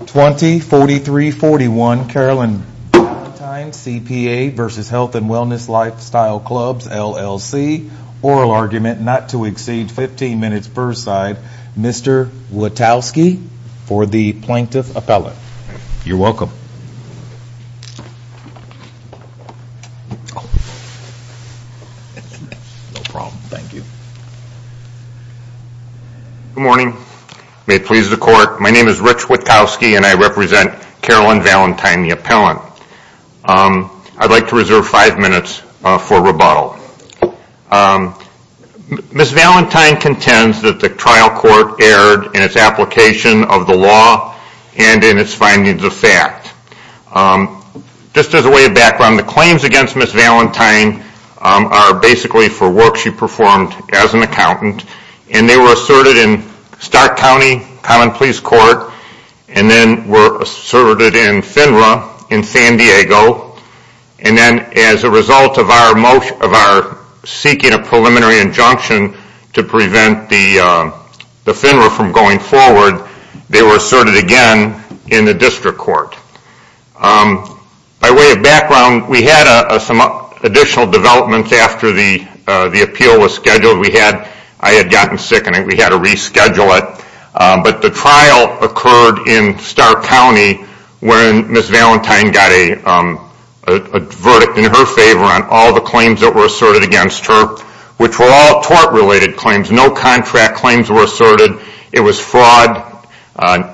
20-43-41, Carolyn Valentine, CPA versus Health and Wellness Lifestyle Clubs, LLC. Oral argument not to exceed 15 minutes per side. Mr. Witalski for the plaintiff appellate. You're welcome. No problem, thank you. Good morning. May it please the court, my name is Rich Witalski and I represent Carolyn Valentine, the appellant. I'd like to reserve five minutes for rebuttal. Ms. Valentine contends that the trial court erred in its application of the law and in its findings of fact. Just as a way of background, the claims against Ms. Valentine are basically for work she performed as an accountant. And they were asserted in Stark County Common Pleas Court and then were asserted in FINRA in San Diego. And then as a result of our seeking a preliminary injunction to prevent the FINRA from going forward, they were asserted again in the district court. By way of background, we had some additional developments after the appeal was scheduled. I had gotten sick and we had to reschedule it. But the trial occurred in Stark County when Ms. Valentine got a verdict in her favor on all the claims that were asserted against her, which were all tort-related claims. No contract claims were asserted. It was fraud,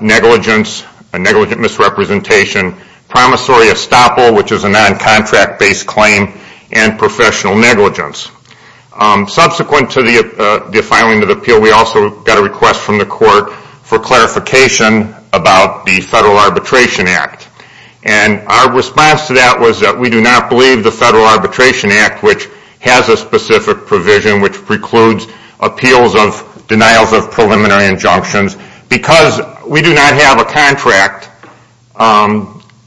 negligence, negligent misrepresentation, promissory estoppel, which is a non-contract-based claim, and professional negligence. Subsequent to the filing of the appeal, we also got a request from the court for clarification about the Federal Arbitration Act. And our response to that was that we do not believe the Federal Arbitration Act, which has a specific provision, which precludes appeals of denials of preliminary injunctions, because we do not have a contract.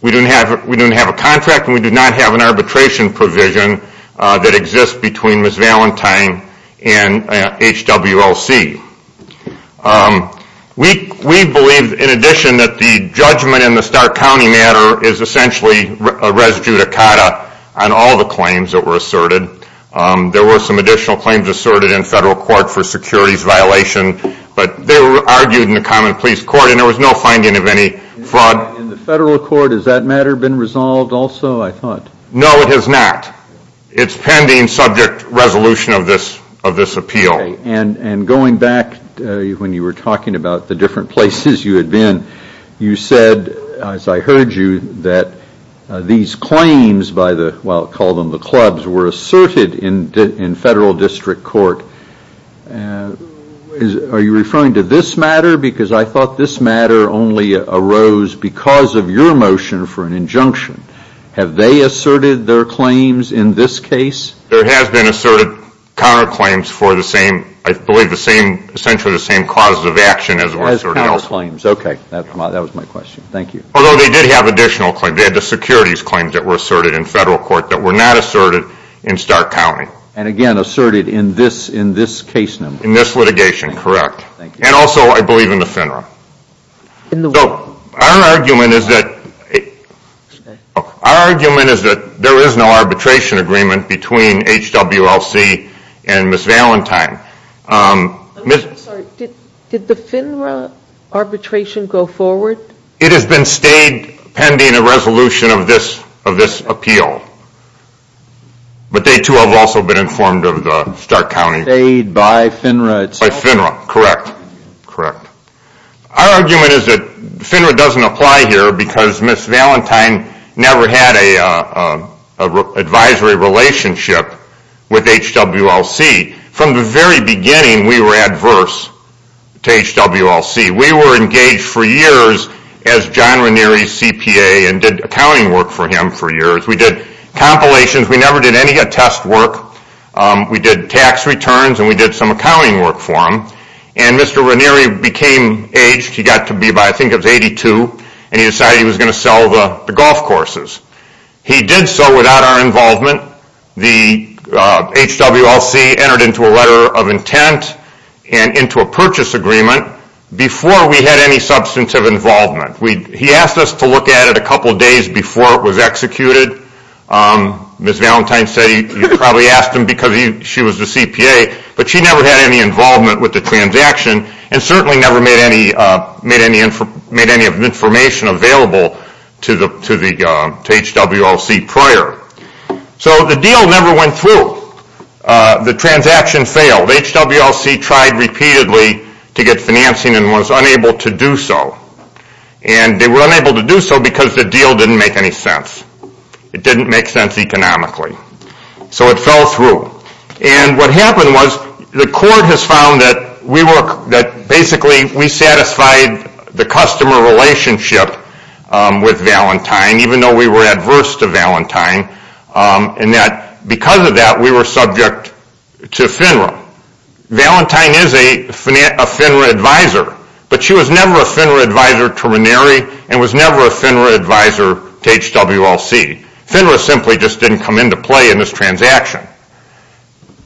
We do not have a contract and we do not have an arbitration provision that exists between Ms. Valentine and HWLC. We believe, in addition, that the judgment in the Stark County matter is essentially a res judicata on all the claims that were asserted. There were some additional claims asserted in federal court for securities violation, but they were argued in a common pleas court and there was no finding of any fraud. In the federal court, has that matter been resolved also, I thought? No, it has not. It's pending subject resolution of this appeal. Okay. And going back, when you were talking about the different places you had been, you said, as I heard you, that these claims by the, well, call them the clubs, were asserted in federal district court. Are you referring to this matter? Because I thought this matter only arose because of your motion for an injunction. Have they asserted their claims in this case? There has been asserted counterclaims for the same, I believe, essentially the same causes of action as asserted elsewhere. Counterclaims, okay. That was my question. Thank you. Although they did have additional claims. They had the securities claims that were asserted in federal court that were not asserted in Stark County. And again, asserted in this case number. In this litigation, correct. And also, I believe, in the FINRA. Our argument is that there is no arbitration agreement between HWLC and Ms. Valentine. Did the FINRA arbitration go forward? It has been stayed pending a resolution of this appeal. But they too have also been informed of the Stark County. Stayed by FINRA itself? Stayed by FINRA, correct. Our argument is that FINRA doesn't apply here because Ms. Valentine never had an advisory relationship with HWLC. From the very beginning, we were adverse to HWLC. We were engaged for years as John Ranieri's CPA and did accounting work for him for years. We did compilations. We never did any attest work. We did tax returns and we did some accounting work for him. And Mr. Ranieri became aged. He got to be, I think, 82. And he decided he was going to sell the golf courses. He did so without our involvement. The HWLC entered into a letter of intent and into a purchase agreement before we had any substantive involvement. He asked us to look at it a couple days before it was executed. Ms. Valentine said you probably asked him because she was the CPA. But she never had any involvement with the transaction and certainly never made any information available to HWLC prior. So the deal never went through. The transaction failed. HWLC tried repeatedly to get financing and was unable to do so. And they were unable to do so because the deal didn't make any sense. It didn't make sense economically. So it fell through. And what happened was the court has found that basically we satisfied the customer relationship with Valentine, even though we were adverse to Valentine, and that because of that we were subject to FINRA. Now, Valentine is a FINRA advisor. But she was never a FINRA advisor to Ranieri and was never a FINRA advisor to HWLC. FINRA simply just didn't come into play in this transaction.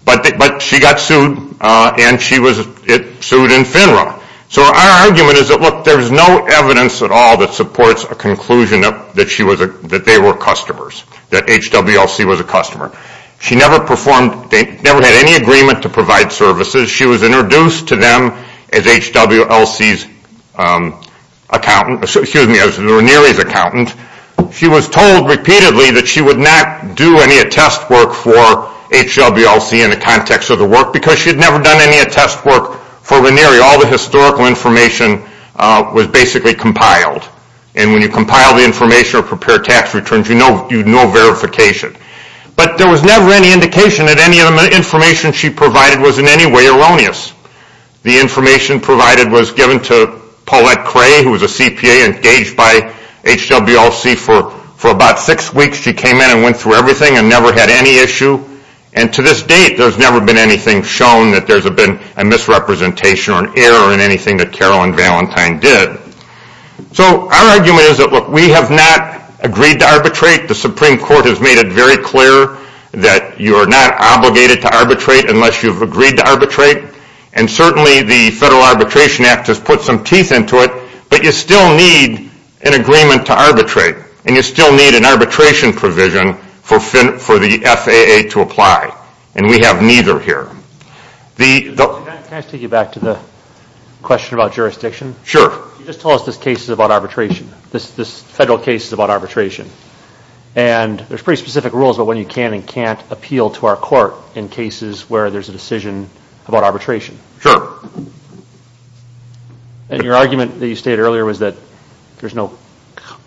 But she got sued and she was sued in FINRA. So our argument is that, look, there's no evidence at all that supports a conclusion that they were customers, that HWLC was a customer. She never had any agreement to provide services. She was introduced to them as Ranieri's accountant. She was told repeatedly that she would not do any attest work for HWLC in the context of the work because she had never done any attest work for Ranieri. All the historical information was basically compiled. And when you compile the information or prepare tax returns, you know verification. But there was never any indication that any of the information she provided was in any way erroneous. The information provided was given to Paulette Cray, who was a CPA engaged by HWLC. For about six weeks, she came in and went through everything and never had any issue. And to this date, there's never been anything shown that there's been a misrepresentation or an error in anything that Carol and Valentine did. So our argument is that, look, we have not agreed to arbitrate. The Supreme Court has made it very clear that you are not obligated to arbitrate unless you've agreed to arbitrate. And certainly the Federal Arbitration Act has put some teeth into it, but you still need an agreement to arbitrate, and you still need an arbitration provision for the FAA to apply. And we have neither here. Can I take you back to the question about jurisdiction? Sure. You just told us this case is about arbitration, this Federal case is about arbitration. And there's pretty specific rules about when you can and can't appeal to our court in cases where there's a decision about arbitration. Sure. And your argument that you stated earlier was that there's no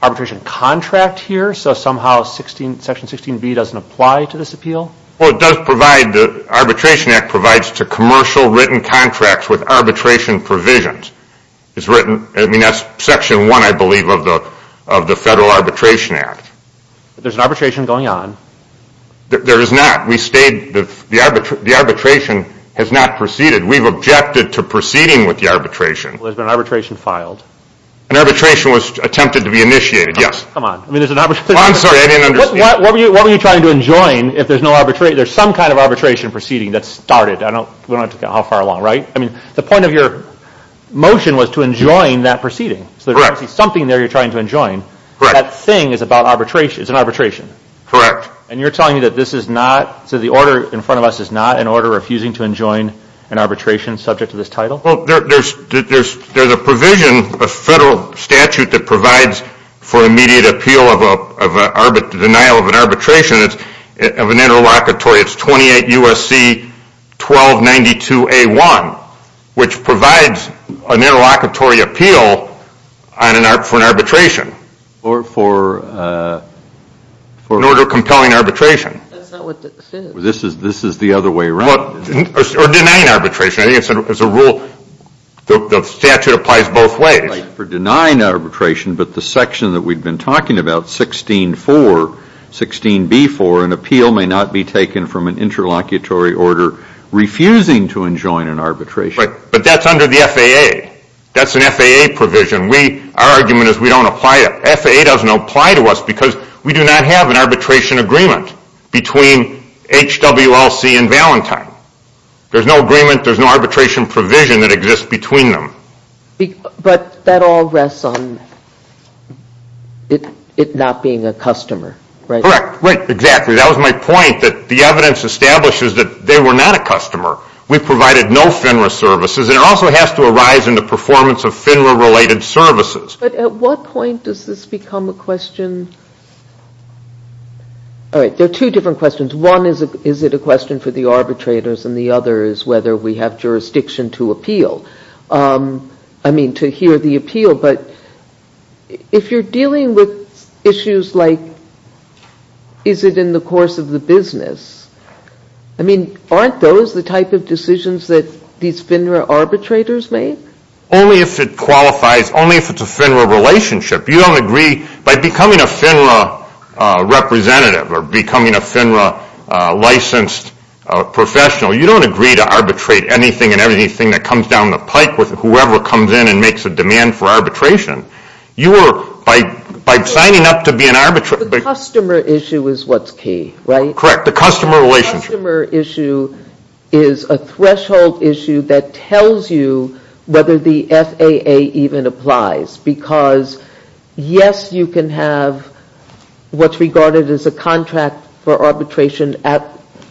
arbitration contract here, so somehow Section 16B doesn't apply to this appeal? Well, it does provide the Arbitration Act provides to commercial written contracts with arbitration provisions. I mean, that's Section 1, I believe, of the Federal Arbitration Act. There's an arbitration going on. There is not. The arbitration has not proceeded. We've objected to proceeding with the arbitration. Well, there's been an arbitration filed. An arbitration was attempted to be initiated, yes. Come on. I'm sorry, I didn't understand. What were you trying to enjoin if there's some kind of arbitration proceeding that started? We don't know how far along, right? I mean, the point of your motion was to enjoin that proceeding. Correct. So there's something there you're trying to enjoin. Correct. That thing is an arbitration. Correct. And you're telling me that this is not, so the order in front of us is not an order refusing to enjoin an arbitration subject to this title? Well, there's a provision, a federal statute that provides for immediate appeal of a denial of an arbitration of an interlocutory. It's 28 U.S.C. 1292A1, which provides an interlocutory appeal for an arbitration. For? In order of compelling arbitration. That's not what it says. This is the other way around. Or denying arbitration. I think it's a rule, the statute applies both ways. It's not for denying arbitration, but the section that we've been talking about, 16.4, 16.b.4, an appeal may not be taken from an interlocutory order refusing to enjoin an arbitration. But that's under the FAA. That's an FAA provision. Our argument is we don't apply it. FAA doesn't apply to us because we do not have an arbitration agreement between HWLC and Valentine. There's no agreement, there's no arbitration provision that exists between them. But that all rests on it not being a customer, right? Correct. Right, exactly. That was my point, that the evidence establishes that they were not a customer. We provided no FINRA services, and it also has to arise in the performance of FINRA-related services. But at what point does this become a question? All right, there are two different questions. One is, is it a question for the arbitrators? And the other is whether we have jurisdiction to appeal, I mean to hear the appeal. But if you're dealing with issues like is it in the course of the business, I mean, aren't those the type of decisions that these FINRA arbitrators make? Only if it qualifies, only if it's a FINRA relationship. You don't agree by becoming a FINRA representative or becoming a FINRA-licensed professional, you don't agree to arbitrate anything and everything that comes down the pike with whoever comes in and makes a demand for arbitration. You are, by signing up to be an arbitrator. The customer issue is what's key, right? Correct, the customer relationship. The customer issue is a threshold issue that tells you whether the FAA even applies. Because, yes, you can have what's regarded as a contract for arbitration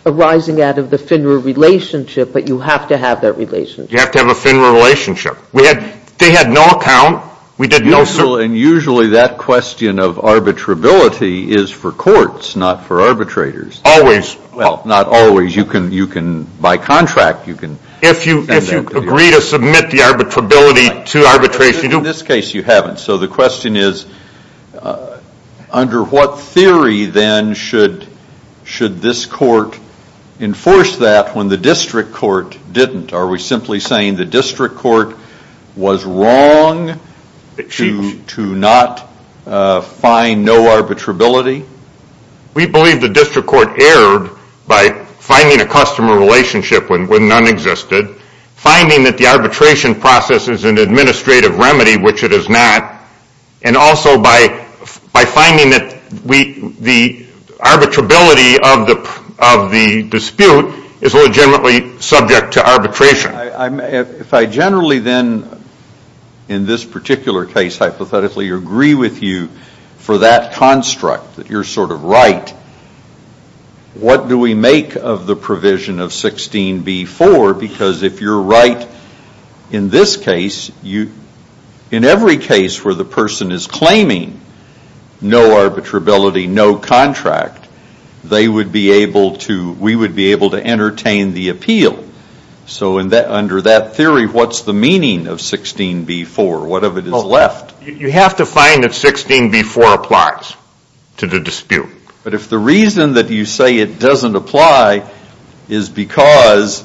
arising out of the FINRA relationship, but you have to have that relationship. You have to have a FINRA relationship. They had no account. And usually that question of arbitrability is for courts, not for arbitrators. Always. Well, not always. You can, by contract, you can. If you agree to submit the arbitrability to arbitration. In this case, you haven't. So the question is under what theory, then, should this court enforce that when the district court didn't? Are we simply saying the district court was wrong to not find no arbitrability? We believe the district court erred by finding a customer relationship when none existed, finding that the arbitration process is an administrative remedy, which it is not, and also by finding that the arbitrability of the dispute is legitimately subject to arbitration. If I generally, then, in this particular case, hypothetically agree with you for that construct, that you're sort of right, what do we make of the provision of 16b-4? Because if you're right in this case, in every case where the person is claiming no arbitrability, no contract, they would be able to, we would be able to entertain the appeal. So under that theory, what's the meaning of 16b-4? What of it is left? You have to find that 16b-4 applies to the dispute. But if the reason that you say it doesn't apply is because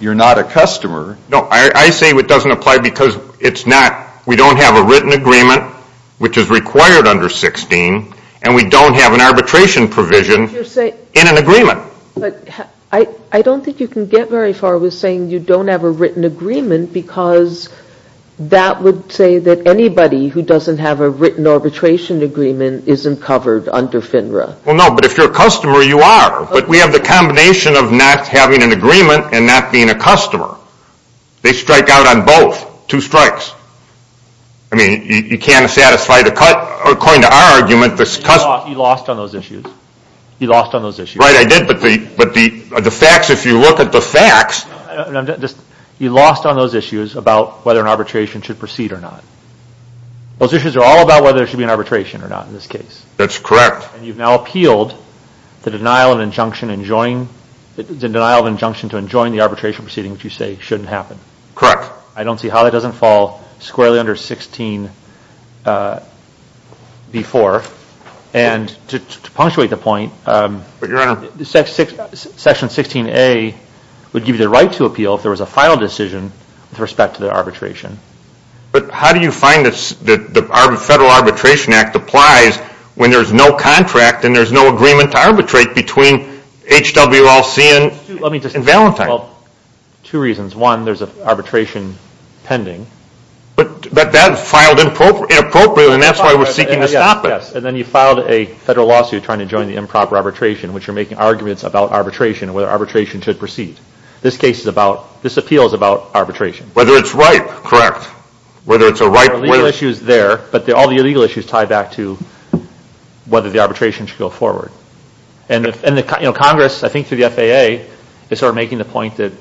you're not a customer. No, I say it doesn't apply because it's not, we don't have a written agreement, which is required under 16, and we don't have an arbitration provision in an agreement. But I don't think you can get very far with saying you don't have a written agreement because that would say that anybody who doesn't have a written arbitration agreement isn't covered under FINRA. Well, no, but if you're a customer, you are. But we have the combination of not having an agreement and not being a customer. They strike out on both, two strikes. I mean, you can't satisfy the cut. According to our argument, the customer. You lost on those issues. You lost on those issues. Right, I did. But the facts, if you look at the facts. You lost on those issues about whether an arbitration should proceed or not. Those issues are all about whether there should be an arbitration or not in this case. That's correct. And you've now appealed the denial of injunction to enjoin the arbitration proceeding, which you say shouldn't happen. Correct. I don't see how that doesn't fall squarely under 16b-4. And to punctuate the point, Section 16a would give you the right to appeal if there was a final decision with respect to the arbitration. But how do you find the Federal Arbitration Act applies when there's no contract and there's no agreement to arbitrate between HWLC and Valentine? Two reasons. One, there's an arbitration pending. But that filed inappropriately, and that's why we're seeking to stop it. Yes, and then you filed a federal lawsuit trying to join the improper arbitration, which you're making arguments about arbitration and whether arbitration should proceed. This case is about, this appeal is about arbitration. Whether it's right. Whether it's a right way. There are legal issues there, but all the illegal issues tie back to whether the arbitration should go forward. And Congress, I think through the FAA, is sort of making the point that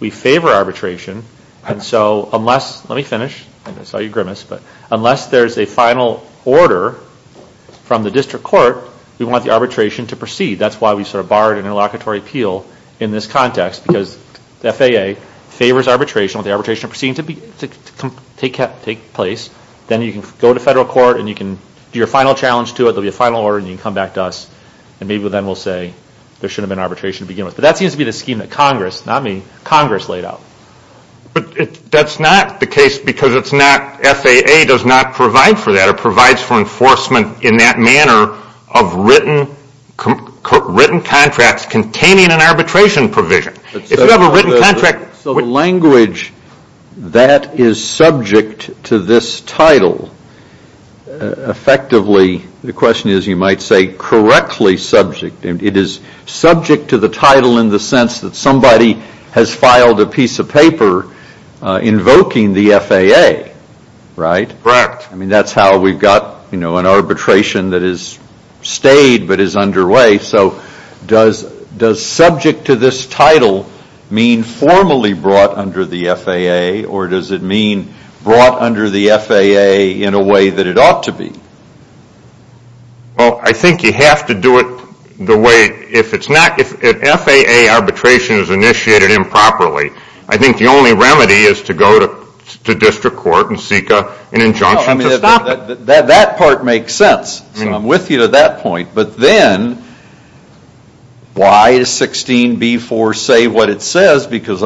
we favor arbitration. And so unless, let me finish. I saw you grimace. But unless there's a final order from the district court, we want the arbitration to proceed. That's why we sort of barred an interlocutory appeal in this context. Because the FAA favors arbitration. We want the arbitration proceeding to take place. Then you can go to federal court and you can do your final challenge to it. There will be a final order and you can come back to us. And maybe then we'll say there shouldn't have been arbitration to begin with. But that seems to be the scheme that Congress, not me, Congress laid out. But that's not the case because it's not, FAA does not provide for that. It provides for enforcement in that manner of written contracts containing an arbitration provision. If you have a written contract. So the language that is subject to this title, effectively, the question is you might say correctly subject. It is subject to the title in the sense that somebody has filed a piece of paper invoking the FAA, right? Correct. I mean, that's how we've got, you know, an arbitration that has stayed but is underway. So does subject to this title mean formally brought under the FAA? Or does it mean brought under the FAA in a way that it ought to be? Well, I think you have to do it the way, if it's not, if FAA arbitration is initiated improperly, I think the only remedy is to go to district court and seek an injunction to stop it. That part makes sense. So I'm with you to that point. But then, why does 16b4 say what it says? Because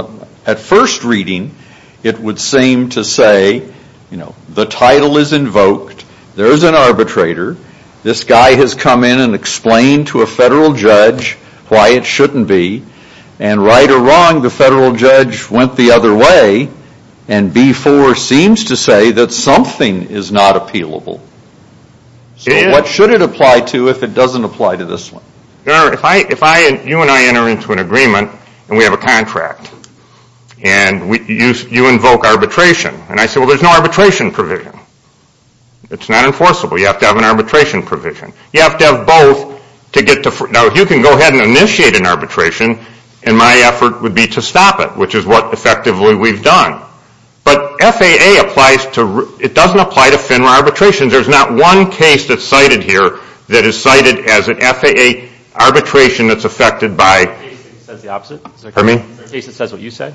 at first reading, it would seem to say, you know, the title is invoked. There is an arbitrator. This guy has come in and explained to a federal judge why it shouldn't be. And right or wrong, the federal judge went the other way. And b4 seems to say that something is not appealable. So what should it apply to if it doesn't apply to this one? If you and I enter into an agreement and we have a contract, and you invoke arbitration, and I say, well, there's no arbitration provision. It's not enforceable. You have to have an arbitration provision. You have to have both to get to, now, you can go ahead and initiate an arbitration, and my effort would be to stop it, which is what effectively we've done. But FAA applies to, it doesn't apply to FINRA arbitrations. There's not one case that's cited here that is cited as an FAA arbitration that's affected by. Is there a case that says the opposite? Pardon me? Is there a case that says what you said?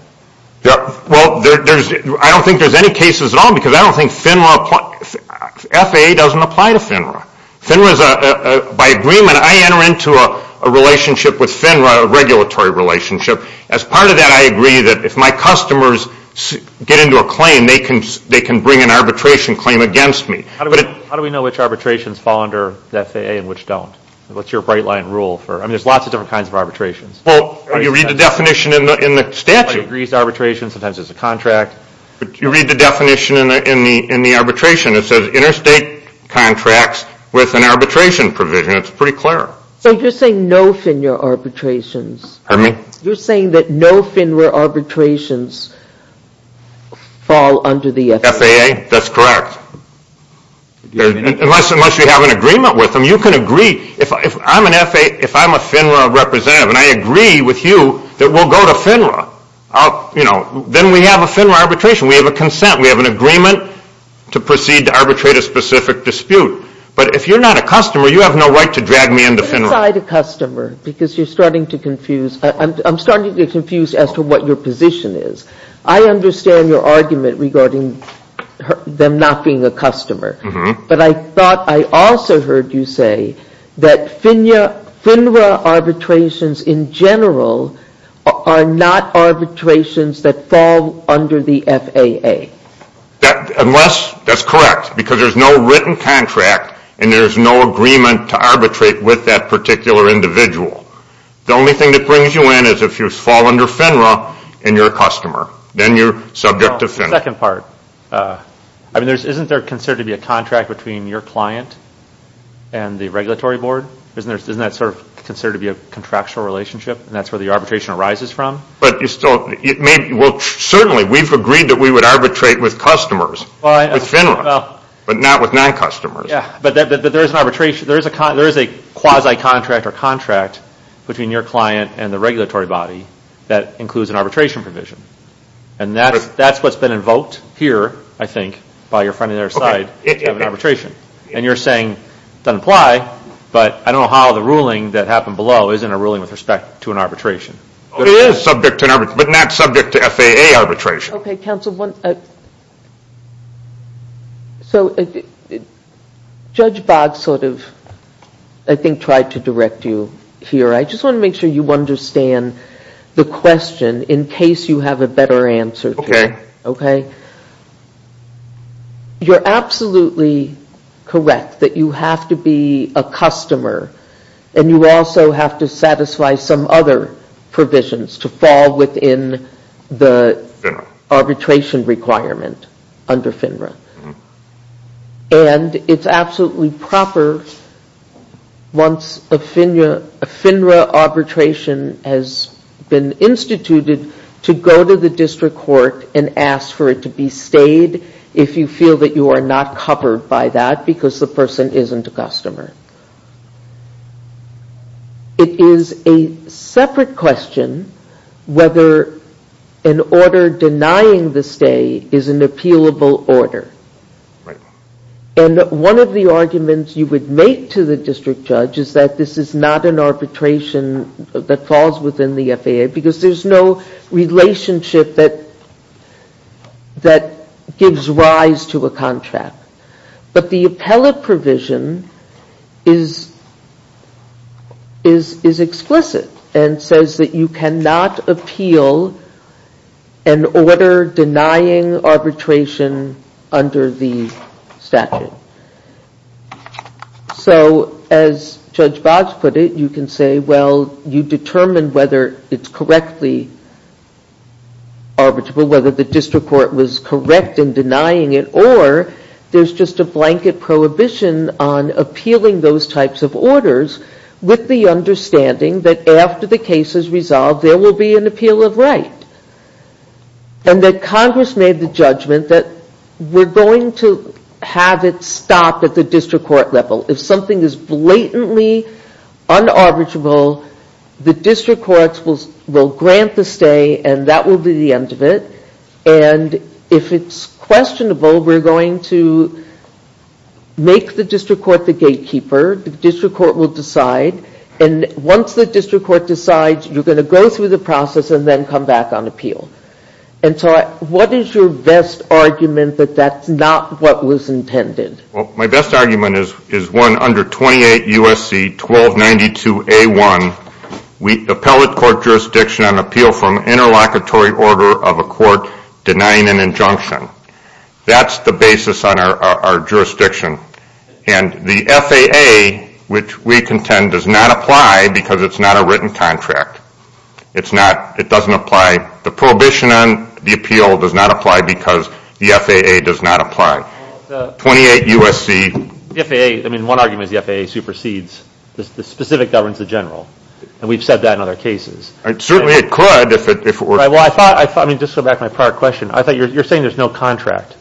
Well, I don't think there's any cases at all because I don't think FINRA applies. FAA doesn't apply to FINRA. FINRA is a, by agreement, I enter into a relationship with FINRA, a regulatory relationship. As part of that, I agree that if my customers get into a claim, they can bring an arbitration claim against me. How do we know which arbitrations fall under the FAA and which don't? What's your bright line rule for, I mean, there's lots of different kinds of arbitrations. Well, you read the definition in the statute. Somebody agrees to arbitration, sometimes there's a contract. You read the definition in the arbitration. It says interstate contracts with an arbitration provision. It's pretty clear. So you're saying no FINRA arbitrations. Pardon me? You're saying that no FINRA arbitrations fall under the FAA. FAA, that's correct. Unless you have an agreement with them, you can agree. If I'm a FINRA representative and I agree with you that we'll go to FINRA, you know, then we have a FINRA arbitration. We have a consent. We have an agreement to proceed to arbitrate a specific dispute. But if you're not a customer, you have no right to drag me into FINRA. But inside a customer because you're starting to confuse. I'm starting to get confused as to what your position is. I understand your argument regarding them not being a customer. But I thought I also heard you say that FINRA arbitrations in general are not arbitrations that fall under the FAA. That's correct because there's no written contract and there's no agreement to arbitrate with that particular individual. The only thing that brings you in is if you fall under FINRA and you're a customer. Then you're subject to FINRA. The second part, isn't there considered to be a contract between your client and the regulatory board? Isn't that sort of considered to be a contractual relationship and that's where the arbitration arises from? Certainly, we've agreed that we would arbitrate with customers, with FINRA, but not with non-customers. But there is a quasi-contract or contract between your client and the regulatory body that includes an arbitration provision. And that's what's been invoked here, I think, by your friend on the other side of an arbitration. And you're saying it doesn't apply, but I don't know how the ruling that happened below isn't a ruling with respect to an arbitration. It is subject to an arbitration, but not subject to FAA arbitration. Okay, counsel. So, Judge Boggs sort of, I think, tried to direct you here. I just want to make sure you understand the question in case you have a better answer to it. Okay. You're absolutely correct that you have to be a customer and you also have to satisfy some other provisions to fall within the arbitration requirement under FINRA. And it's absolutely proper once a FINRA arbitration has been instituted to go to the district court and ask for it to be stayed if you feel that you are not covered by that because the person isn't a customer. It is a separate question whether an order denying the stay is an appealable order. And one of the arguments you would make to the district judge is that this is not an arbitration that falls within the FAA because there's no relationship that gives rise to a contract. But the appellate provision is explicit and says that you cannot appeal an order denying arbitration under the statute. So, as Judge Boggs put it, you can say, well, you determine whether it's correctly arbitrable, whether the district court was correct in denying it, or there's just a blanket prohibition on appealing those types of orders with the understanding that after the case is resolved, there will be an appeal of right. And that Congress made the judgment that we're going to have it stopped at the district court level. If something is blatantly un-arbitrable, the district courts will grant the stay and that will be the end of it. And if it's questionable, we're going to make the district court the gatekeeper. The district court will decide. And once the district court decides, you're going to go through the process and then come back on appeal. And so what is your best argument that that's not what was intended? Well, my best argument is one under 28 U.S.C. 1292A1, appellate court jurisdiction on appeal from interlocutory order of a court denying an injunction. That's the basis on our jurisdiction. And the FAA, which we contend, does not apply because it's not a written contract. It's not, it doesn't apply, the prohibition on the appeal does not apply because the FAA does not apply. 28 U.S.C. The FAA, I mean, one argument is the FAA supersedes the specific governs the general. And we've said that in other cases. Certainly it could if it were. Well, I thought, I mean, just to go back to my prior question, I thought you're saying there's no contract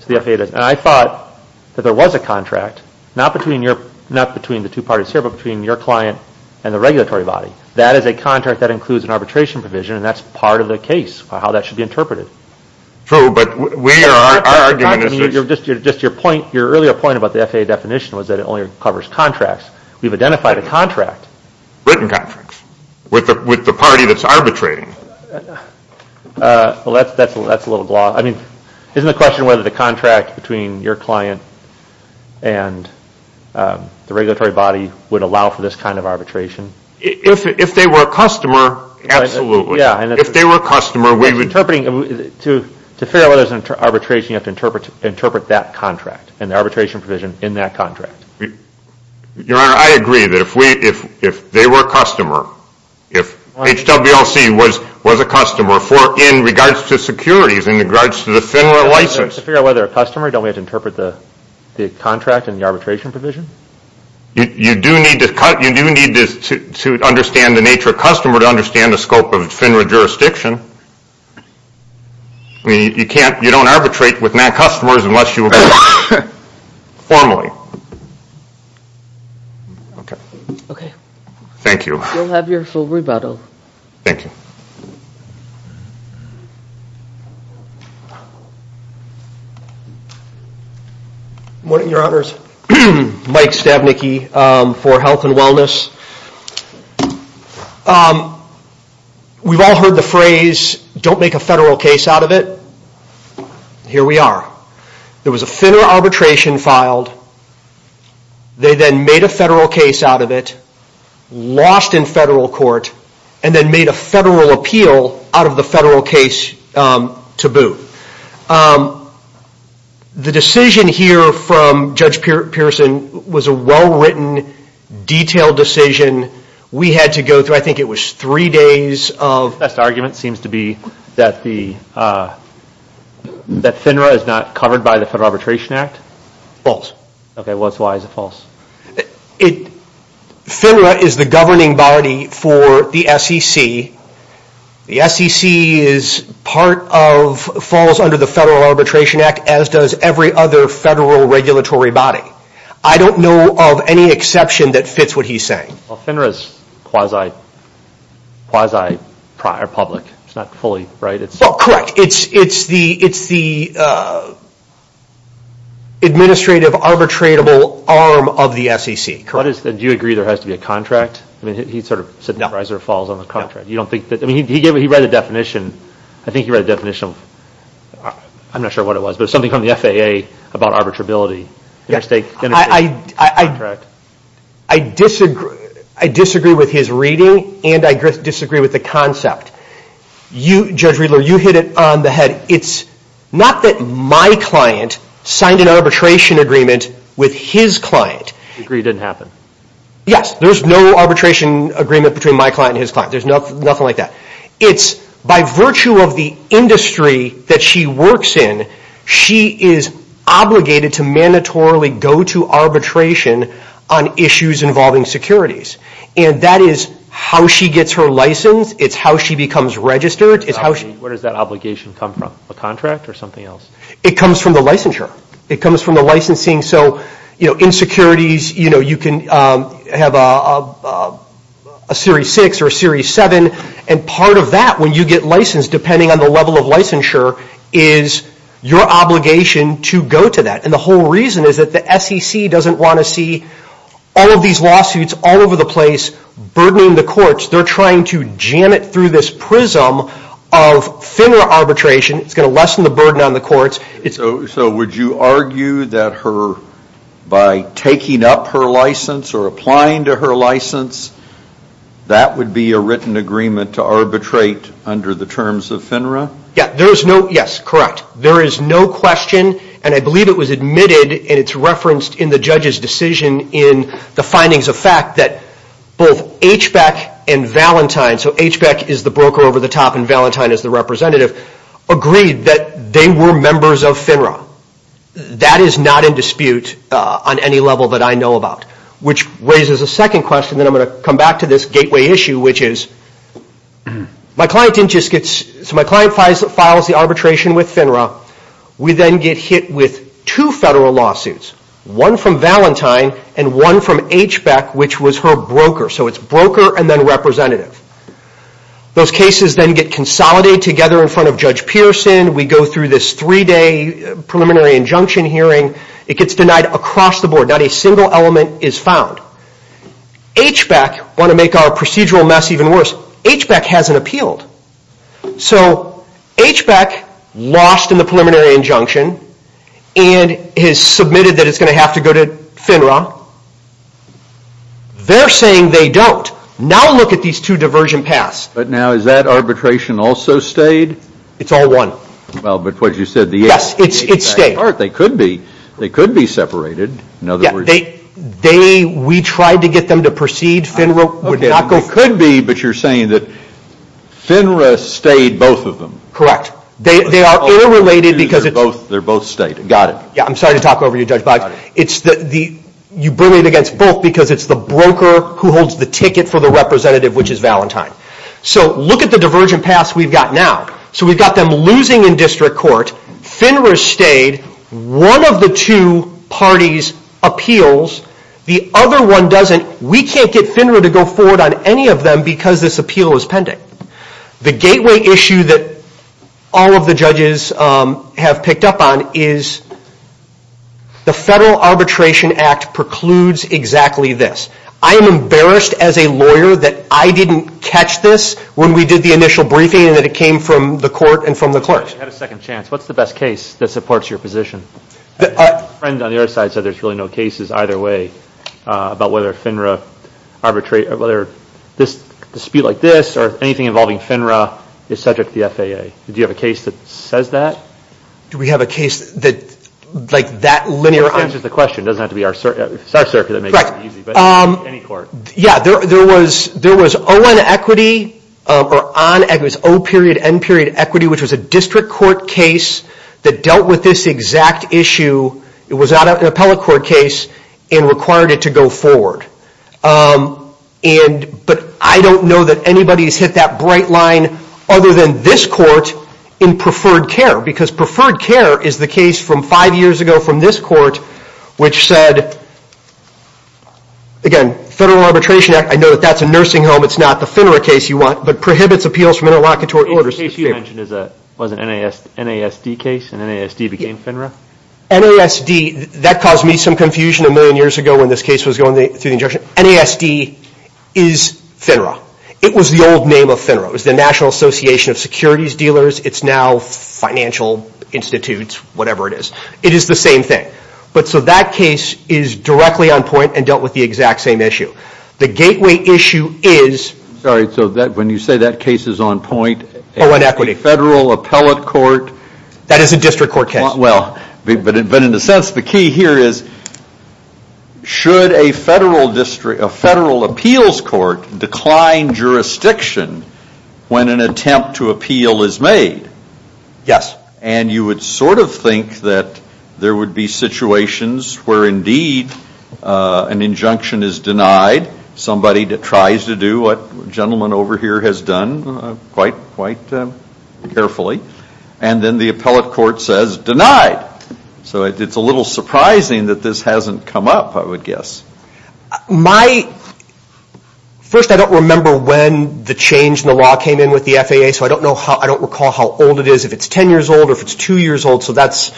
to the FAA. And I thought that there was a contract, not between the two parties here, but between your client and the regulatory body. That is a contract that includes an arbitration provision, and that's part of the case of how that should be interpreted. True, but we are arguing. I mean, just your point, your earlier point about the FAA definition was that it only covers contracts. We've identified a contract. Written contracts with the party that's arbitrating. Well, that's a little gloss. I mean, isn't the question whether the contract between your client and the regulatory body would allow for this kind of arbitration? If they were a customer, absolutely. If they were a customer, we would. To figure out whether there's an arbitration, you have to interpret that contract and the arbitration provision in that contract. Your Honor, I agree that if they were a customer, if HWLC was a customer in regards to securities, in regards to the FINRA license. To figure out whether they're a customer, don't we have to interpret the contract and the arbitration provision? You do need to understand the nature of customer to understand the scope of FINRA jurisdiction. I mean, you can't, you don't arbitrate with non-customers unless you agree formally. Okay. Okay. Thank you. You'll have your full rebuttal. Thank you. Good morning, Your Honors. Mike Stabnicki for Health and Wellness. We've all heard the phrase, don't make a federal case out of it. Here we are. There was a FINRA arbitration filed. They then made a federal case out of it, lost in federal court, and then made a federal appeal out of the federal case to boot. The decision here from Judge Pearson was a well-written, detailed decision. We had to go through, I think it was three days of... The best argument seems to be that FINRA is not covered by the Federal Arbitration Act? False. Okay. Why is it false? FINRA is the governing body for the SEC. The SEC falls under the Federal Arbitration Act, as does every other federal regulatory body. I don't know of any exception that fits what he's saying. Well, FINRA is quasi-public. It's not fully, right? Well, correct. It's the administrative arbitratable arm of the SEC. Do you agree there has to be a contract? I mean, he sort of said that Reiser falls under the contract. He read the definition. I think he read the definition. I'm not sure what it was, but it was something from the FAA about arbitrability. I disagree with his reading, and I disagree with the concept. Judge Riedler, you hit it on the head. It's not that my client signed an arbitration agreement with his client. You agree it didn't happen? Yes. There's no arbitration agreement between my client and his client. There's nothing like that. It's by virtue of the industry that she works in, she is obligated to mandatorily go to arbitration on issues involving securities. And that is how she gets her license. It's how she becomes registered. Where does that obligation come from, a contract or something else? It comes from the licensure. It comes from the licensing. In securities, you can have a Series 6 or a Series 7, and part of that when you get licensed, depending on the level of licensure, is your obligation to go to that. And the whole reason is that the SEC doesn't want to see all of these lawsuits all over the place burdening the courts. They're trying to jam it through this prism of thinner arbitration. So would you argue that by taking up her license or applying to her license, that would be a written agreement to arbitrate under the terms of FINRA? Yes, correct. There is no question, and I believe it was admitted, and it's referenced in the judge's decision in the findings of fact, that both HBEC and Valentine, so HBEC is the broker over the top and Valentine is the representative, agreed that they were members of FINRA. That is not in dispute on any level that I know about, which raises a second question that I'm going to come back to this gateway issue, which is my client files the arbitration with FINRA. We then get hit with two federal lawsuits, one from Valentine and one from HBEC, which was her broker. So it's broker and then representative. Those cases then get consolidated together in front of Judge Pearson. We go through this three-day preliminary injunction hearing. It gets denied across the board. Not a single element is found. HBEC want to make our procedural mess even worse. HBEC hasn't appealed. So HBEC lost in the preliminary injunction and has submitted that it's going to have to go to FINRA. They're saying they don't. Now look at these two diversion paths. But now is that arbitration also stayed? It's all one. Well, but what you said, the HBEC part, they could be separated. We tried to get them to proceed. FINRA would not go through. It could be, but you're saying that FINRA stayed both of them. Correct. They are air-related because they're both stayed. Got it. I'm sorry to talk over you, Judge Boggs. You bring it against both because it's the broker who holds the ticket for the representative, which is Valentine. So look at the divergent paths we've got now. So we've got them losing in district court. FINRA stayed. One of the two parties appeals. The other one doesn't. We can't get FINRA to go forward on any of them because this appeal is pending. The gateway issue that all of the judges have picked up on is the Federal Arbitration Act precludes exactly this. I am embarrassed as a lawyer that I didn't catch this when we did the initial briefing and that it came from the court and from the clerks. You had a second chance. What's the best case that supports your position? A friend on the other side said there's really no cases either way about whether this dispute like this or anything involving FINRA is subject to the FAA. Do you have a case that says that? Do we have a case like that linear? It answers the question. It doesn't have to be our circuit. It's our circuit that makes it easy, but any court. Yeah. There was O-N equity or on equity. It was O period, N period equity, which was a district court case that dealt with this exact issue. It was not an appellate court case and required it to go forward. But I don't know that anybody has hit that bright line other than this court in preferred care because preferred care is the case from five years ago from this court which said, again, Federal Arbitration Act. I know that that's a nursing home. It's not the FINRA case you want, but prohibits appeals from interlocutory orders. The case you mentioned was an NASD case and NASD became FINRA? NASD, that caused me some confusion a million years ago when this case was going through the injunction. NASD is FINRA. It was the old name of FINRA. It was the National Association of Securities Dealers. It's now Financial Institutes, whatever it is. It is the same thing. So that case is directly on point and dealt with the exact same issue. The gateway issue is... Sorry, so when you say that case is on point... O-N equity. Federal appellate court... That is a district court case. But in a sense, the key here is should a federal appeals court decline jurisdiction when an attempt to appeal is made? Yes. And you would sort of think that there would be situations where indeed an injunction is denied, somebody tries to do what the gentleman over here has done quite carefully, and then the appellate court says, denied. So it's a little surprising that this hasn't come up, I would guess. My... First, I don't remember when the change in the law came in with the FAA, so I don't recall how old it is, if it's 10 years old or if it's 2 years old, so that's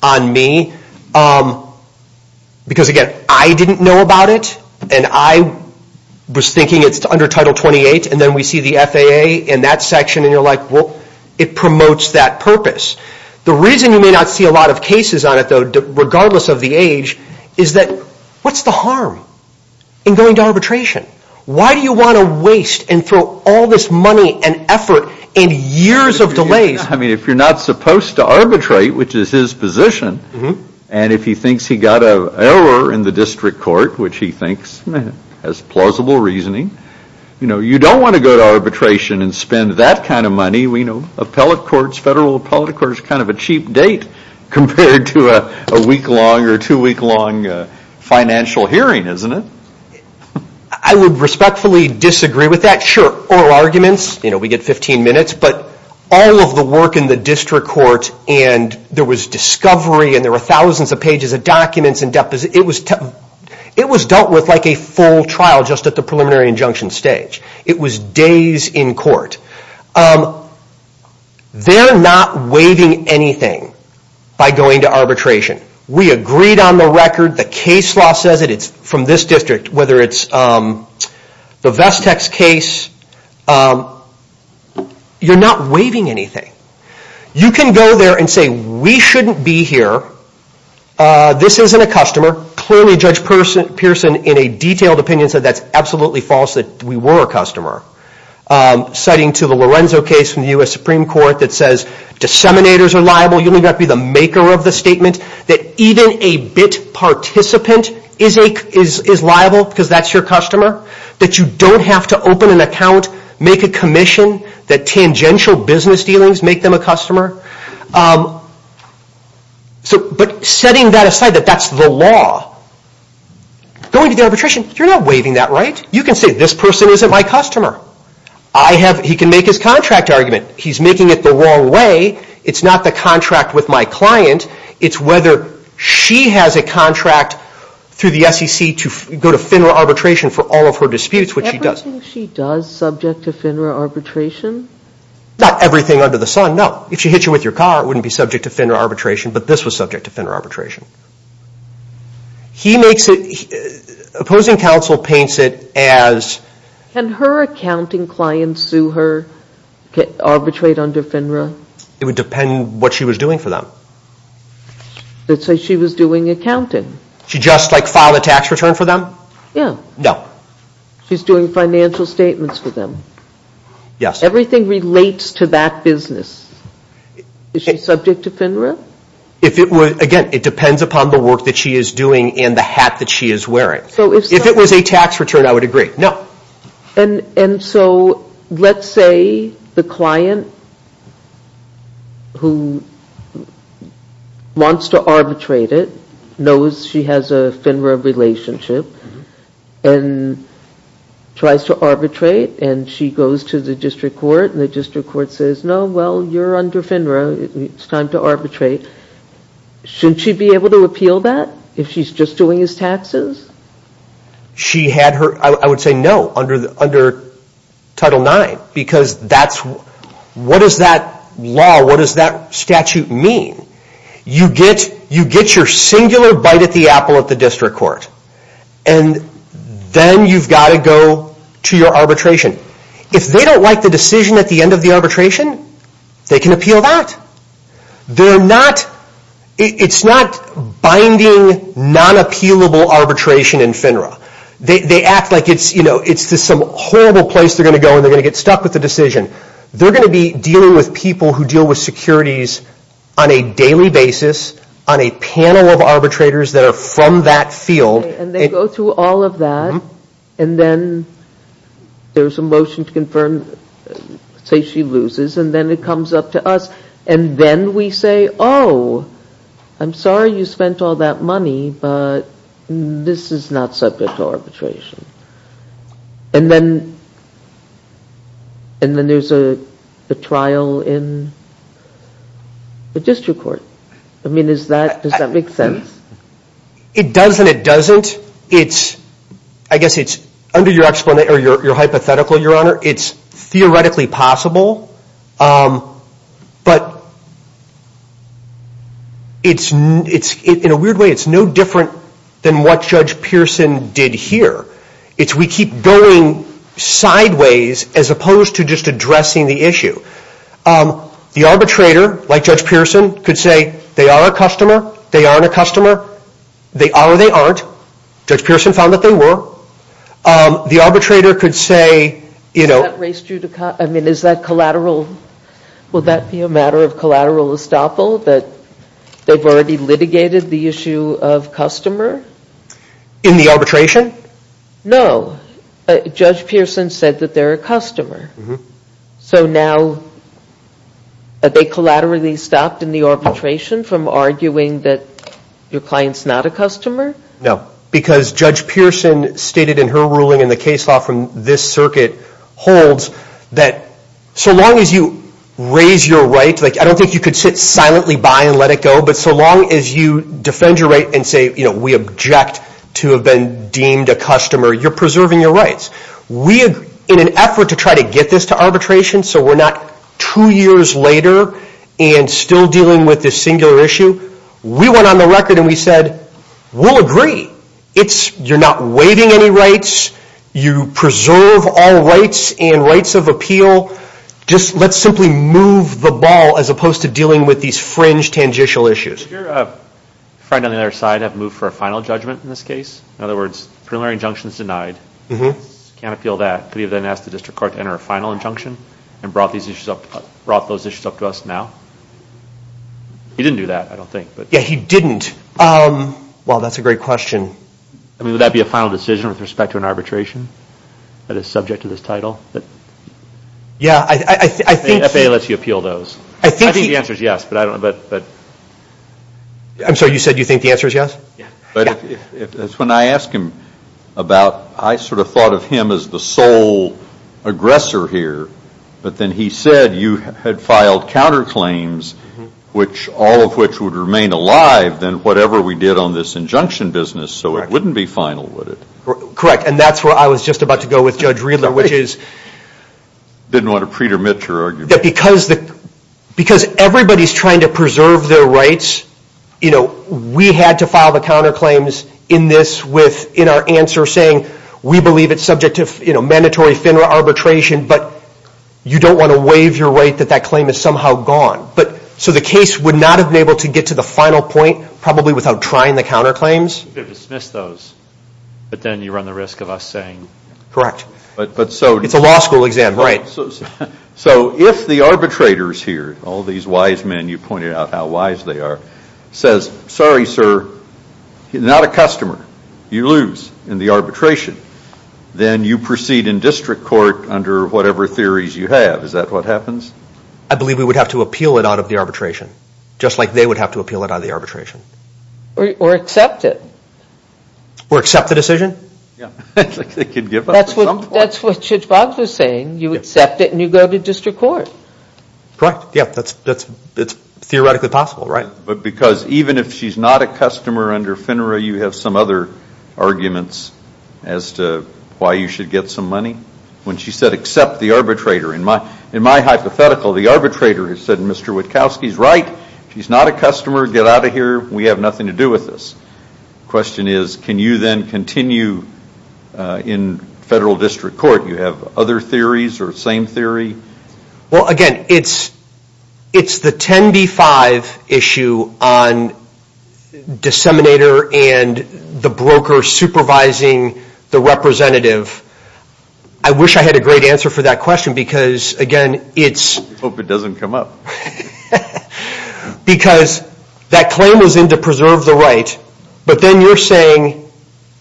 on me. Because, again, I didn't know about it, and I was thinking it's under Title 28, and then we see the FAA in that section, and you're like, well, it promotes that purpose. The reason you may not see a lot of cases on it, though, regardless of the age, is that what's the harm in going to arbitration? Why do you want to waste and throw all this money and effort and years of delays? I mean, if you're not supposed to arbitrate, which is his position, and if he thinks he got an error in the district court, which he thinks has plausible reasoning, you don't want to go to arbitration and spend that kind of money. Appellate courts, federal appellate courts, that's kind of a cheap date compared to a week-long or two-week-long financial hearing, isn't it? I would respectfully disagree with that. Sure, oral arguments, we get 15 minutes, but all of the work in the district court, and there was discovery, and there were thousands of pages of documents, it was dealt with like a full trial just at the preliminary injunction stage. It was days in court. They're not waiving anything by going to arbitration. We agreed on the record, the case law says it, it's from this district, whether it's the Vestex case, you're not waiving anything. You can go there and say, we shouldn't be here, this isn't a customer, clearly Judge Pearson, in a detailed opinion, said that's absolutely false, that we were a customer, citing to the Lorenzo case from the U.S. Supreme Court that says disseminators are liable, you don't have to be the maker of the statement, that even a BIT participant is liable because that's your customer, that you don't have to open an account, make a commission, that tangential business dealings make them a customer. But setting that aside, that that's the law, going to the arbitration, you're not waiving that, right? You can say, this person isn't my customer. He can make his contract argument, he's making it the wrong way, it's not the contract with my client, it's whether she has a contract through the SEC to go to FINRA arbitration for all of her disputes, which she does. Everything she does is subject to FINRA arbitration? Not everything under the sun, no. If she hits you with your car, it wouldn't be subject to FINRA arbitration, but this was subject to FINRA arbitration. He makes it... Opposing counsel paints it as... Can her accounting clients sue her, arbitrate under FINRA? It would depend what she was doing for them. Let's say she was doing accounting. She just, like, filed a tax return for them? Yeah. No. She's doing financial statements for them. Yes. Everything relates to that business. Is she subject to FINRA? Again, it depends upon the work that she is doing and the hat that she is wearing. If it was a tax return, I would agree. No. And so, let's say the client who wants to arbitrate it knows she has a FINRA relationship and tries to arbitrate, and she goes to the district court, and the district court says, no, well, you're under FINRA, it's time to arbitrate. Shouldn't she be able to appeal that if she's just doing his taxes? She had her... I would say no under Title IX because that's... What does that law, what does that statute mean? You get your singular bite at the apple at the district court, and then you've got to go to your arbitration. If they don't like the decision at the end of the arbitration, they can appeal that. They're not... It's not binding, non-appealable arbitration in FINRA. They act like it's, you know, it's just some horrible place they're going to go and they're going to get stuck with the decision. They're going to be dealing with people who deal with securities on a daily basis, on a panel of arbitrators that are from that field. And they go through all of that, and then there's a motion to confirm, say she loses, and then it comes up to us, and then we say, oh, I'm sorry you spent all that money, but this is not subject to arbitration. And then... And then there's a trial in the district court. I mean, is that... Does that make sense? It does and it doesn't. It's... I guess it's... Under your hypothetical, Your Honor, it's theoretically possible, but it's... In a weird way, it's no different than what Judge Pearson did here. It's we keep going sideways as opposed to just addressing the issue. The arbitrator, like Judge Pearson, could say they are a customer, they aren't a customer, they are or they aren't. Judge Pearson found that they were. The arbitrator could say... Is that collateral? Would that be a matter of collateral estoppel that they've already litigated the issue of customer? In the arbitration? No. Judge Pearson said that they're a customer. So now, they collaterally stopped in the arbitration from arguing that your client's not a customer? No. Because Judge Pearson stated in her ruling in the case law from this circuit holds that so long as you raise your right... I don't think you could sit silently by and let it go, but so long as you defend your right and say we object to have been deemed a customer, you're preserving your rights. In an effort to try to get this to arbitration so we're not two years later and still dealing with this singular issue, we went on the record and we said, we'll agree. You're not waiving any rights. You preserve all rights and rights of appeal. Let's simply move the ball as opposed to dealing with these fringe, tangential issues. Did your friend on the other side have to move for a final judgment in this case? In other words, preliminary injunction's denied. Can't appeal that. Could he have then asked the district court to enter a final injunction and brought those issues up to us now? He didn't do that, I don't think. Yeah, he didn't. Wow, that's a great question. Would that be a final decision with respect to an arbitration that is subject to this title? Yeah, I think... The FAA lets you appeal those. I think the answer's yes, but I don't know. I'm sorry, you said you think the answer's yes? Yeah. That's when I asked him about, I sort of thought of him as the sole aggressor here, but then he said you had filed counterclaims, all of which would remain alive than whatever we did on this injunction business, so it wouldn't be final, would it? Correct, and that's where I was just about to go with Judge Riedler, which is... Didn't want to pre-dermit your argument. Because everybody's trying to preserve their rights, we had to file the counterclaims in this in our answer saying, we believe it's subject to mandatory FINRA arbitration, but you don't want to waive your right to think that that claim is somehow gone. So the case would not have been able to get to the final point probably without trying the counterclaims? You could have dismissed those, but then you run the risk of us saying... Correct. It's a law school exam, right. So if the arbitrators here, all these wise men, you pointed out how wise they are, says, sorry, sir, not a customer, you lose in the arbitration, then you proceed in district court under whatever theories you have. Is that what happens? I believe we would have to appeal it out of the arbitration, just like they would have to appeal it out of the arbitration. Or accept it. Or accept the decision? Yeah, I think they could give up at some point. That's what Judge Boggs was saying. You accept it and you go to district court. Correct. Yeah, that's theoretically possible, right. But because even if she's not a customer under FINRA, you have some other arguments as to why you should get some money? When she said accept the arbitrator. In my hypothetical, the arbitrator has said, Mr. Witkowski's right. She's not a customer. Get out of here. We have nothing to do with this. The question is, can you then continue in federal district court? You have other theories or the same theory? Well, again, it's the 10b-5 issue on disseminator and the broker supervising the representative. I wish I had a great answer for that question because, again, it's... I hope it doesn't come up. Because that claim was in to preserve the right. But then you're saying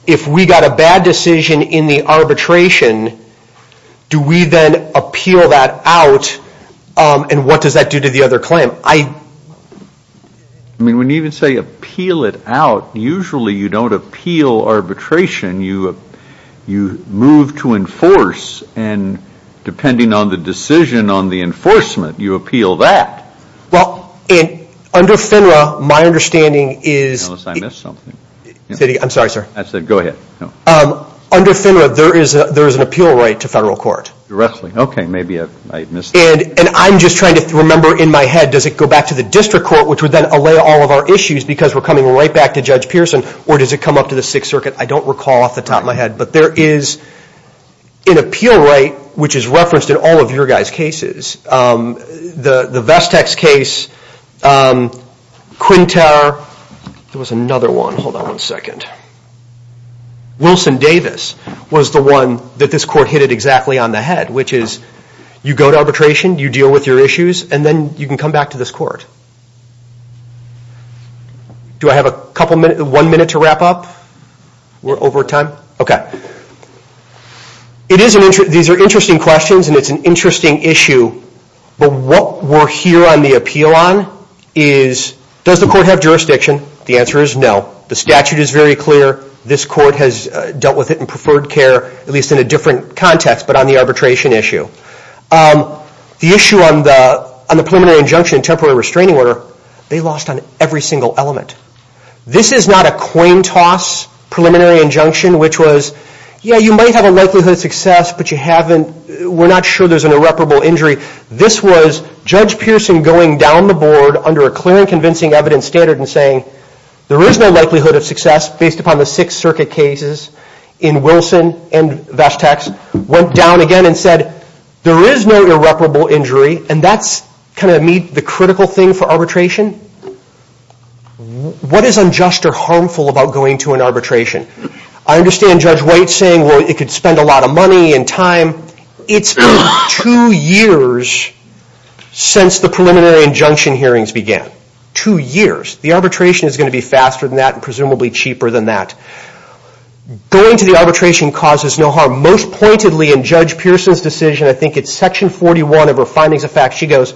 if we got a bad decision in the arbitration, do we then appeal that out? And what does that do to the other claim? When you even say appeal it out, usually you don't appeal arbitration. You move to enforce. And depending on the decision on the enforcement, you appeal that. Well, under FINRA, my understanding is... Unless I missed something. I'm sorry, sir. I said go ahead. Under FINRA, there is an appeal right to federal court. Okay, maybe I missed that. And I'm just trying to remember in my head, does it go back to the district court, which would then allay all of our issues because we're coming right back to Judge Pearson, or does it come up to the Sixth Circuit? I don't recall off the top of my head. But there is an appeal right, which is referenced in all of your guys' cases. The Vestek's case, Quinta... There was another one. Hold on one second. Wilson Davis was the one that this court hit it exactly on the head, which is you go to arbitration, you deal with your issues, and then you can come back to this court. Do I have one minute to wrap up? We're over time? Okay. These are interesting questions, and it's an interesting issue. But what we're here on the appeal on is, does the court have jurisdiction? The answer is no. The statute is very clear. This court has dealt with it in preferred care, at least in a different context, but on the arbitration issue. The issue on the preliminary injunction and temporary restraining order, they lost on every single element. This is not a coin toss preliminary injunction, which was, yeah, you might have a likelihood of success, but you haven't, we're not sure there's an irreparable injury. This was Judge Pearson going down the board under a clear and convincing evidence standard and saying, there is no likelihood of success based upon the Sixth Circuit cases in Wilson and Vestek's, went down again and said, there is no irreparable injury, and that's kind of the critical thing for arbitration. What is unjust or harmful about going to an arbitration? I understand Judge White saying, well, it could spend a lot of money and time. It's been two years since the preliminary injunction hearings began. Two years. The arbitration is going to be faster than that and presumably cheaper than that. Going to the arbitration causes no harm. Most pointedly in Judge Pearson's decision, I think it's section 41 of her findings of fact, she goes,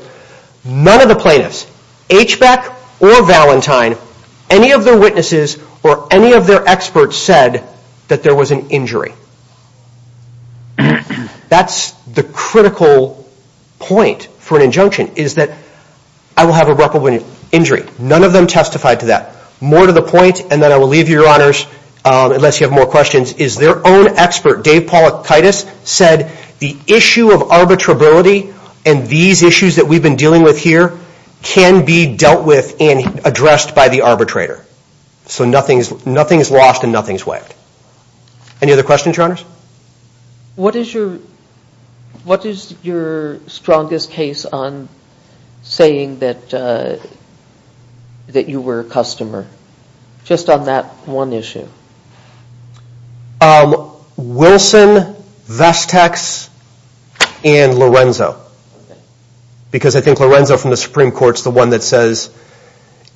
none of the plaintiffs, HBEC or Valentine, any of their witnesses or any of their experts said that there was an injury. That's the critical point for an injunction is that I will have irreparable injury. None of them testified to that. More to the point, and then I will leave you, Your Honors, unless you have more questions, is their own expert, Dave Polakaitis, said the issue of arbitrability and these issues that we've been dealing with here can be dealt with and addressed by the arbitrator. So nothing is lost and nothing is waived. Any other questions, Your Honors? What is your strongest case on saying that you were a customer? Just on that one issue. Wilson, Vesteks, and Lorenzo. Because I think Lorenzo from the Supreme Court is the one that says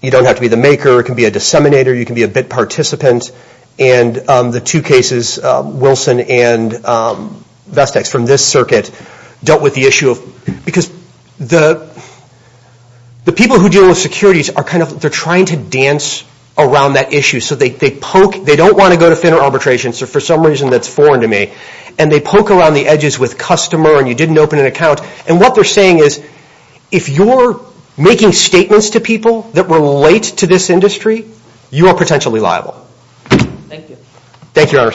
you don't have to be the maker, you can be a disseminator, you can be a bit participant. And the two cases, Wilson and Vesteks from this circuit, dealt with the issue of, because the people who deal with securities are kind of, they're trying to dance around that issue. So they poke, they don't want to go to thinner arbitration, so for some reason that's foreign to me. And they poke around the edges with customer and you didn't open an account. And what they're saying is, if you're making statements to people that relate to this industry, you are potentially liable. Thank you. Thank you, Your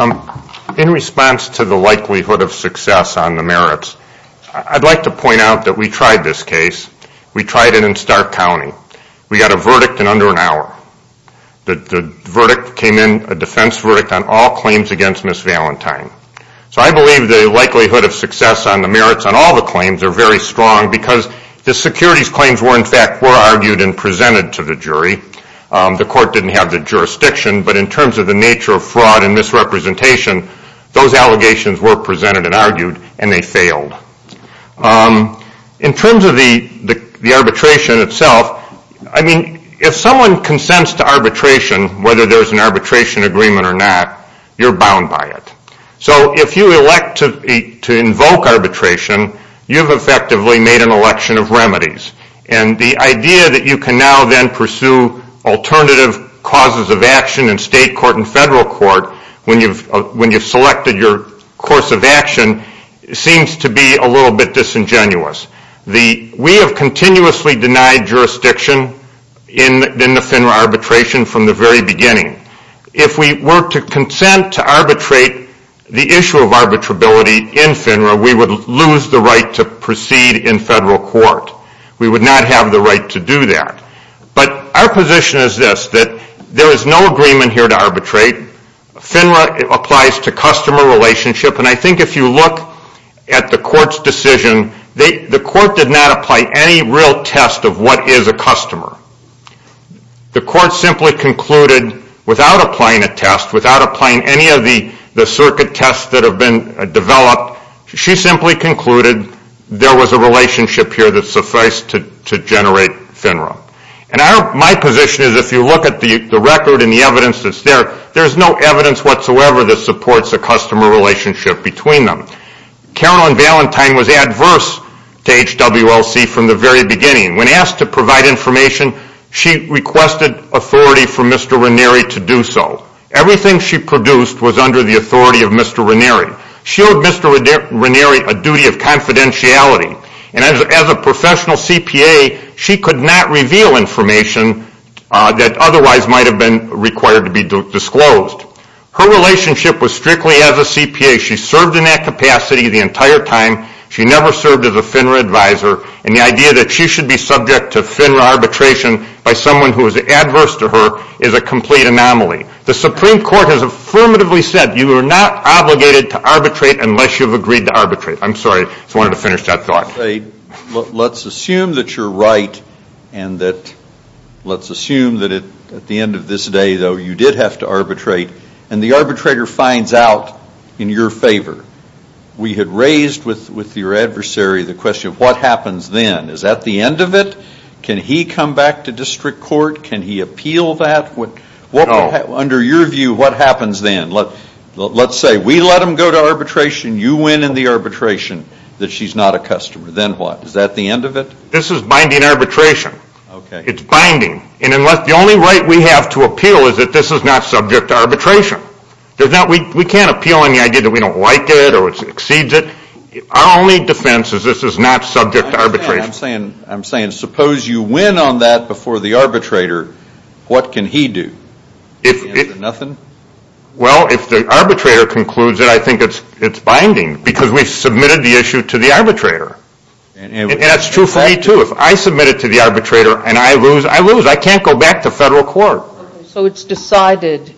Honors. In response to the likelihood of success on the merits, I'd like to point out that we tried this case. We tried it in Stark County. We got a verdict in under an hour. The verdict came in, a defense verdict on all claims against Ms. Valentine. So I believe the likelihood of success on the merits on all the claims are very strong because the securities claims were in fact, were argued and presented to the jury. The court didn't have the jurisdiction, but in terms of the nature of fraud and misrepresentation, those allegations were presented and argued and they failed. In terms of the arbitration itself, I mean, if someone consents to arbitration, whether there's an arbitration agreement or not, you're bound by it. So if you elect to invoke arbitration, you've effectively made an election of remedies. And the idea that you can now then pursue alternative causes of action in state court and federal court when you've selected your course of action seems to be a little bit disingenuous. We have continuously denied jurisdiction in the FINRA arbitration from the very beginning. If we were to consent to arbitrate the issue of arbitrability in FINRA, we would lose the right to proceed in federal court. We would not have the right to do that. But our position is this, that there is no agreement here to arbitrate. FINRA applies to customer relationship, and I think if you look at the court's decision, the court did not apply any real test of what is a customer. The court simply concluded, without applying a test, without applying any of the circuit tests that have been developed, she simply concluded there was a relationship here that sufficed to generate FINRA. And my position is if you look at the record and the evidence that's there, there's no evidence whatsoever that supports a customer relationship between them. Carolyn Valentine was adverse to HWLC from the very beginning. When asked to provide information, she requested authority from Mr. Ranieri to do so. Everything she produced was under the authority of Mr. Ranieri. She owed Mr. Ranieri a duty of confidentiality, and as a professional CPA, she could not reveal information that otherwise might have been required to be disclosed. Her relationship was strictly as a CPA. She served in that capacity the entire time. She never served as a FINRA advisor, and the idea that she should be subject to FINRA arbitration by someone who is adverse to her is a complete anomaly. The Supreme Court has affirmatively said you are not obligated to arbitrate unless you've agreed to arbitrate. I'm sorry, just wanted to finish that thought. Let's assume that you're right and that let's assume that at the end of this day, though, you did have to arbitrate, and the arbitrator finds out in your favor. We had raised with your adversary the question of what happens then. Is that the end of it? Can he come back to district court? Can he appeal that? No. Under your view, what happens then? Let's say we let him go to arbitration, you win in the arbitration, that she's not a customer. Then what? Is that the end of it? This is binding arbitration. It's binding. The only right we have to appeal is that this is not subject to arbitration. We can't appeal on the idea that we don't like it or it exceeds it. Our only defense is this is not subject to arbitration. I'm saying suppose you win on that before the arbitrator, what can he do? Nothing? Well, if the arbitrator concludes it, I think it's binding because we've submitted the issue to the arbitrator. And that's true for me, too. If I submit it to the arbitrator and I lose, I lose. I can't go back to federal court. So it's decided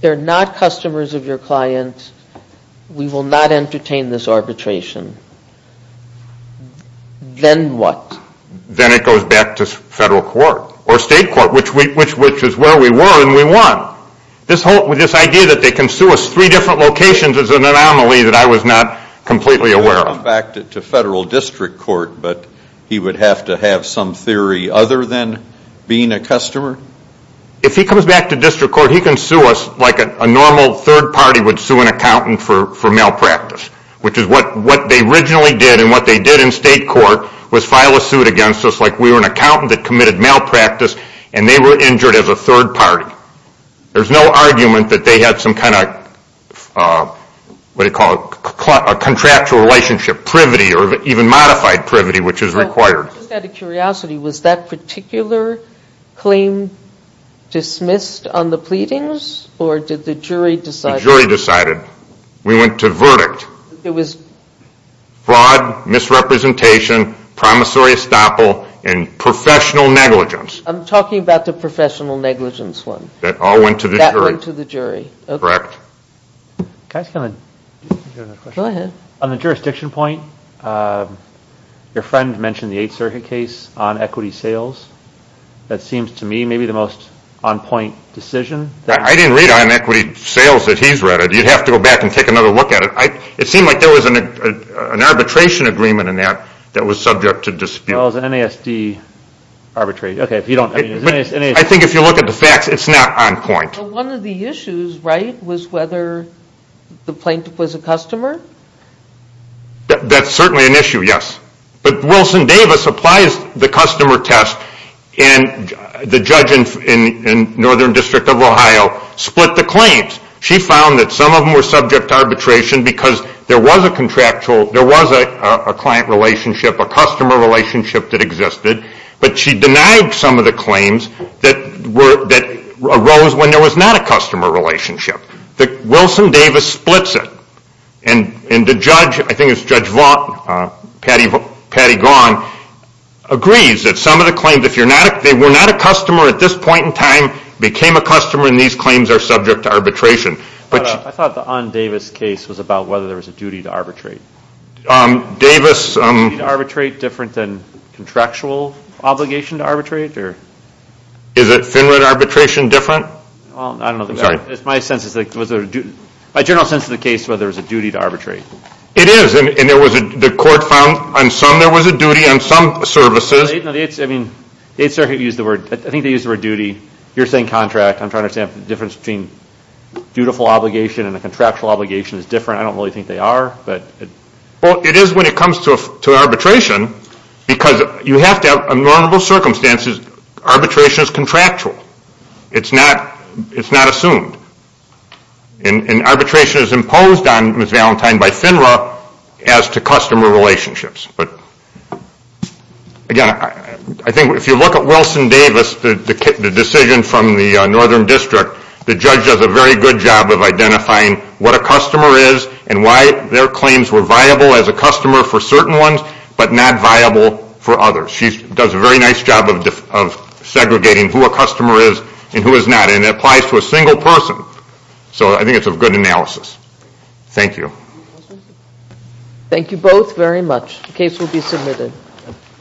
they're not customers of your client, we will not entertain this arbitration. Then what? Then it goes back to federal court or state court, which is where we were and we won. This idea that they can sue us three different locations is an anomaly that I was not completely aware of. Back to federal district court, but he would have to have some theory other than being a customer? If he comes back to district court, he can sue us like a normal third party would sue an accountant for malpractice, which is what they originally did and what they did in state court was file a suit against us like we were an accountant that committed malpractice and they were injured as a third party. There's no argument that they had some kind of, what do you call it, a contractual relationship, a privity or even modified privity, which is required. Just out of curiosity, was that particular claim dismissed on the pleadings or did the jury decide it? The jury decided. We went to verdict. It was fraud, misrepresentation, promissory estoppel, and professional negligence. I'm talking about the professional negligence one. That all went to the jury. That went to the jury. Correct. Can I ask you another question? Go ahead. On the jurisdiction point, your friend mentioned the Eighth Circuit case on equity sales. That seems to me maybe the most on-point decision. I didn't read on equity sales that he's read it. You'd have to go back and take another look at it. It seemed like there was an arbitration agreement in that that was subject to dispute. Well, it was an NASD arbitration. I think if you look at the facts, it's not on point. One of the issues, right, was whether the plaintiff was a customer? That's certainly an issue, yes. But Wilson Davis applies the customer test, and the judge in Northern District of Ohio split the claims. She found that some of them were subject to arbitration because there was a client relationship, a customer relationship that existed, but she denied some of the claims that arose when there was not a customer relationship. Wilson Davis splits it, and the judge, I think it was Judge Vaughn, Patty Vaughn, agrees that some of the claims, if they were not a customer at this point in time, became a customer, and these claims are subject to arbitration. I thought the Ahn-Davis case was about whether there was a duty to arbitrate. Is the duty to arbitrate different than contractual obligation to arbitrate? Is it FINRA to arbitration different? I don't know. It's my general sense of the case whether there was a duty to arbitrate. It is, and the court found on some there was a duty, on some services. The 8th Circuit used the word, I think they used the word duty. You're saying contract. I'm trying to understand if the difference between dutiful obligation and a contractual obligation is different. I don't really think they are. Well, it is when it comes to arbitration because you have to have normal circumstances. Arbitration is contractual. It's not assumed. And arbitration is imposed on Ms. Valentine by FINRA as to customer relationships. Again, I think if you look at Wilson Davis, the decision from the Northern District, the judge does a very good job of identifying what a customer is and why their claims were viable as a customer for certain ones but not viable for others. She does a very nice job of segregating who a customer is and who is not. And it applies to a single person. So I think it's a good analysis. Thank you. Thank you both very much. The case will be submitted.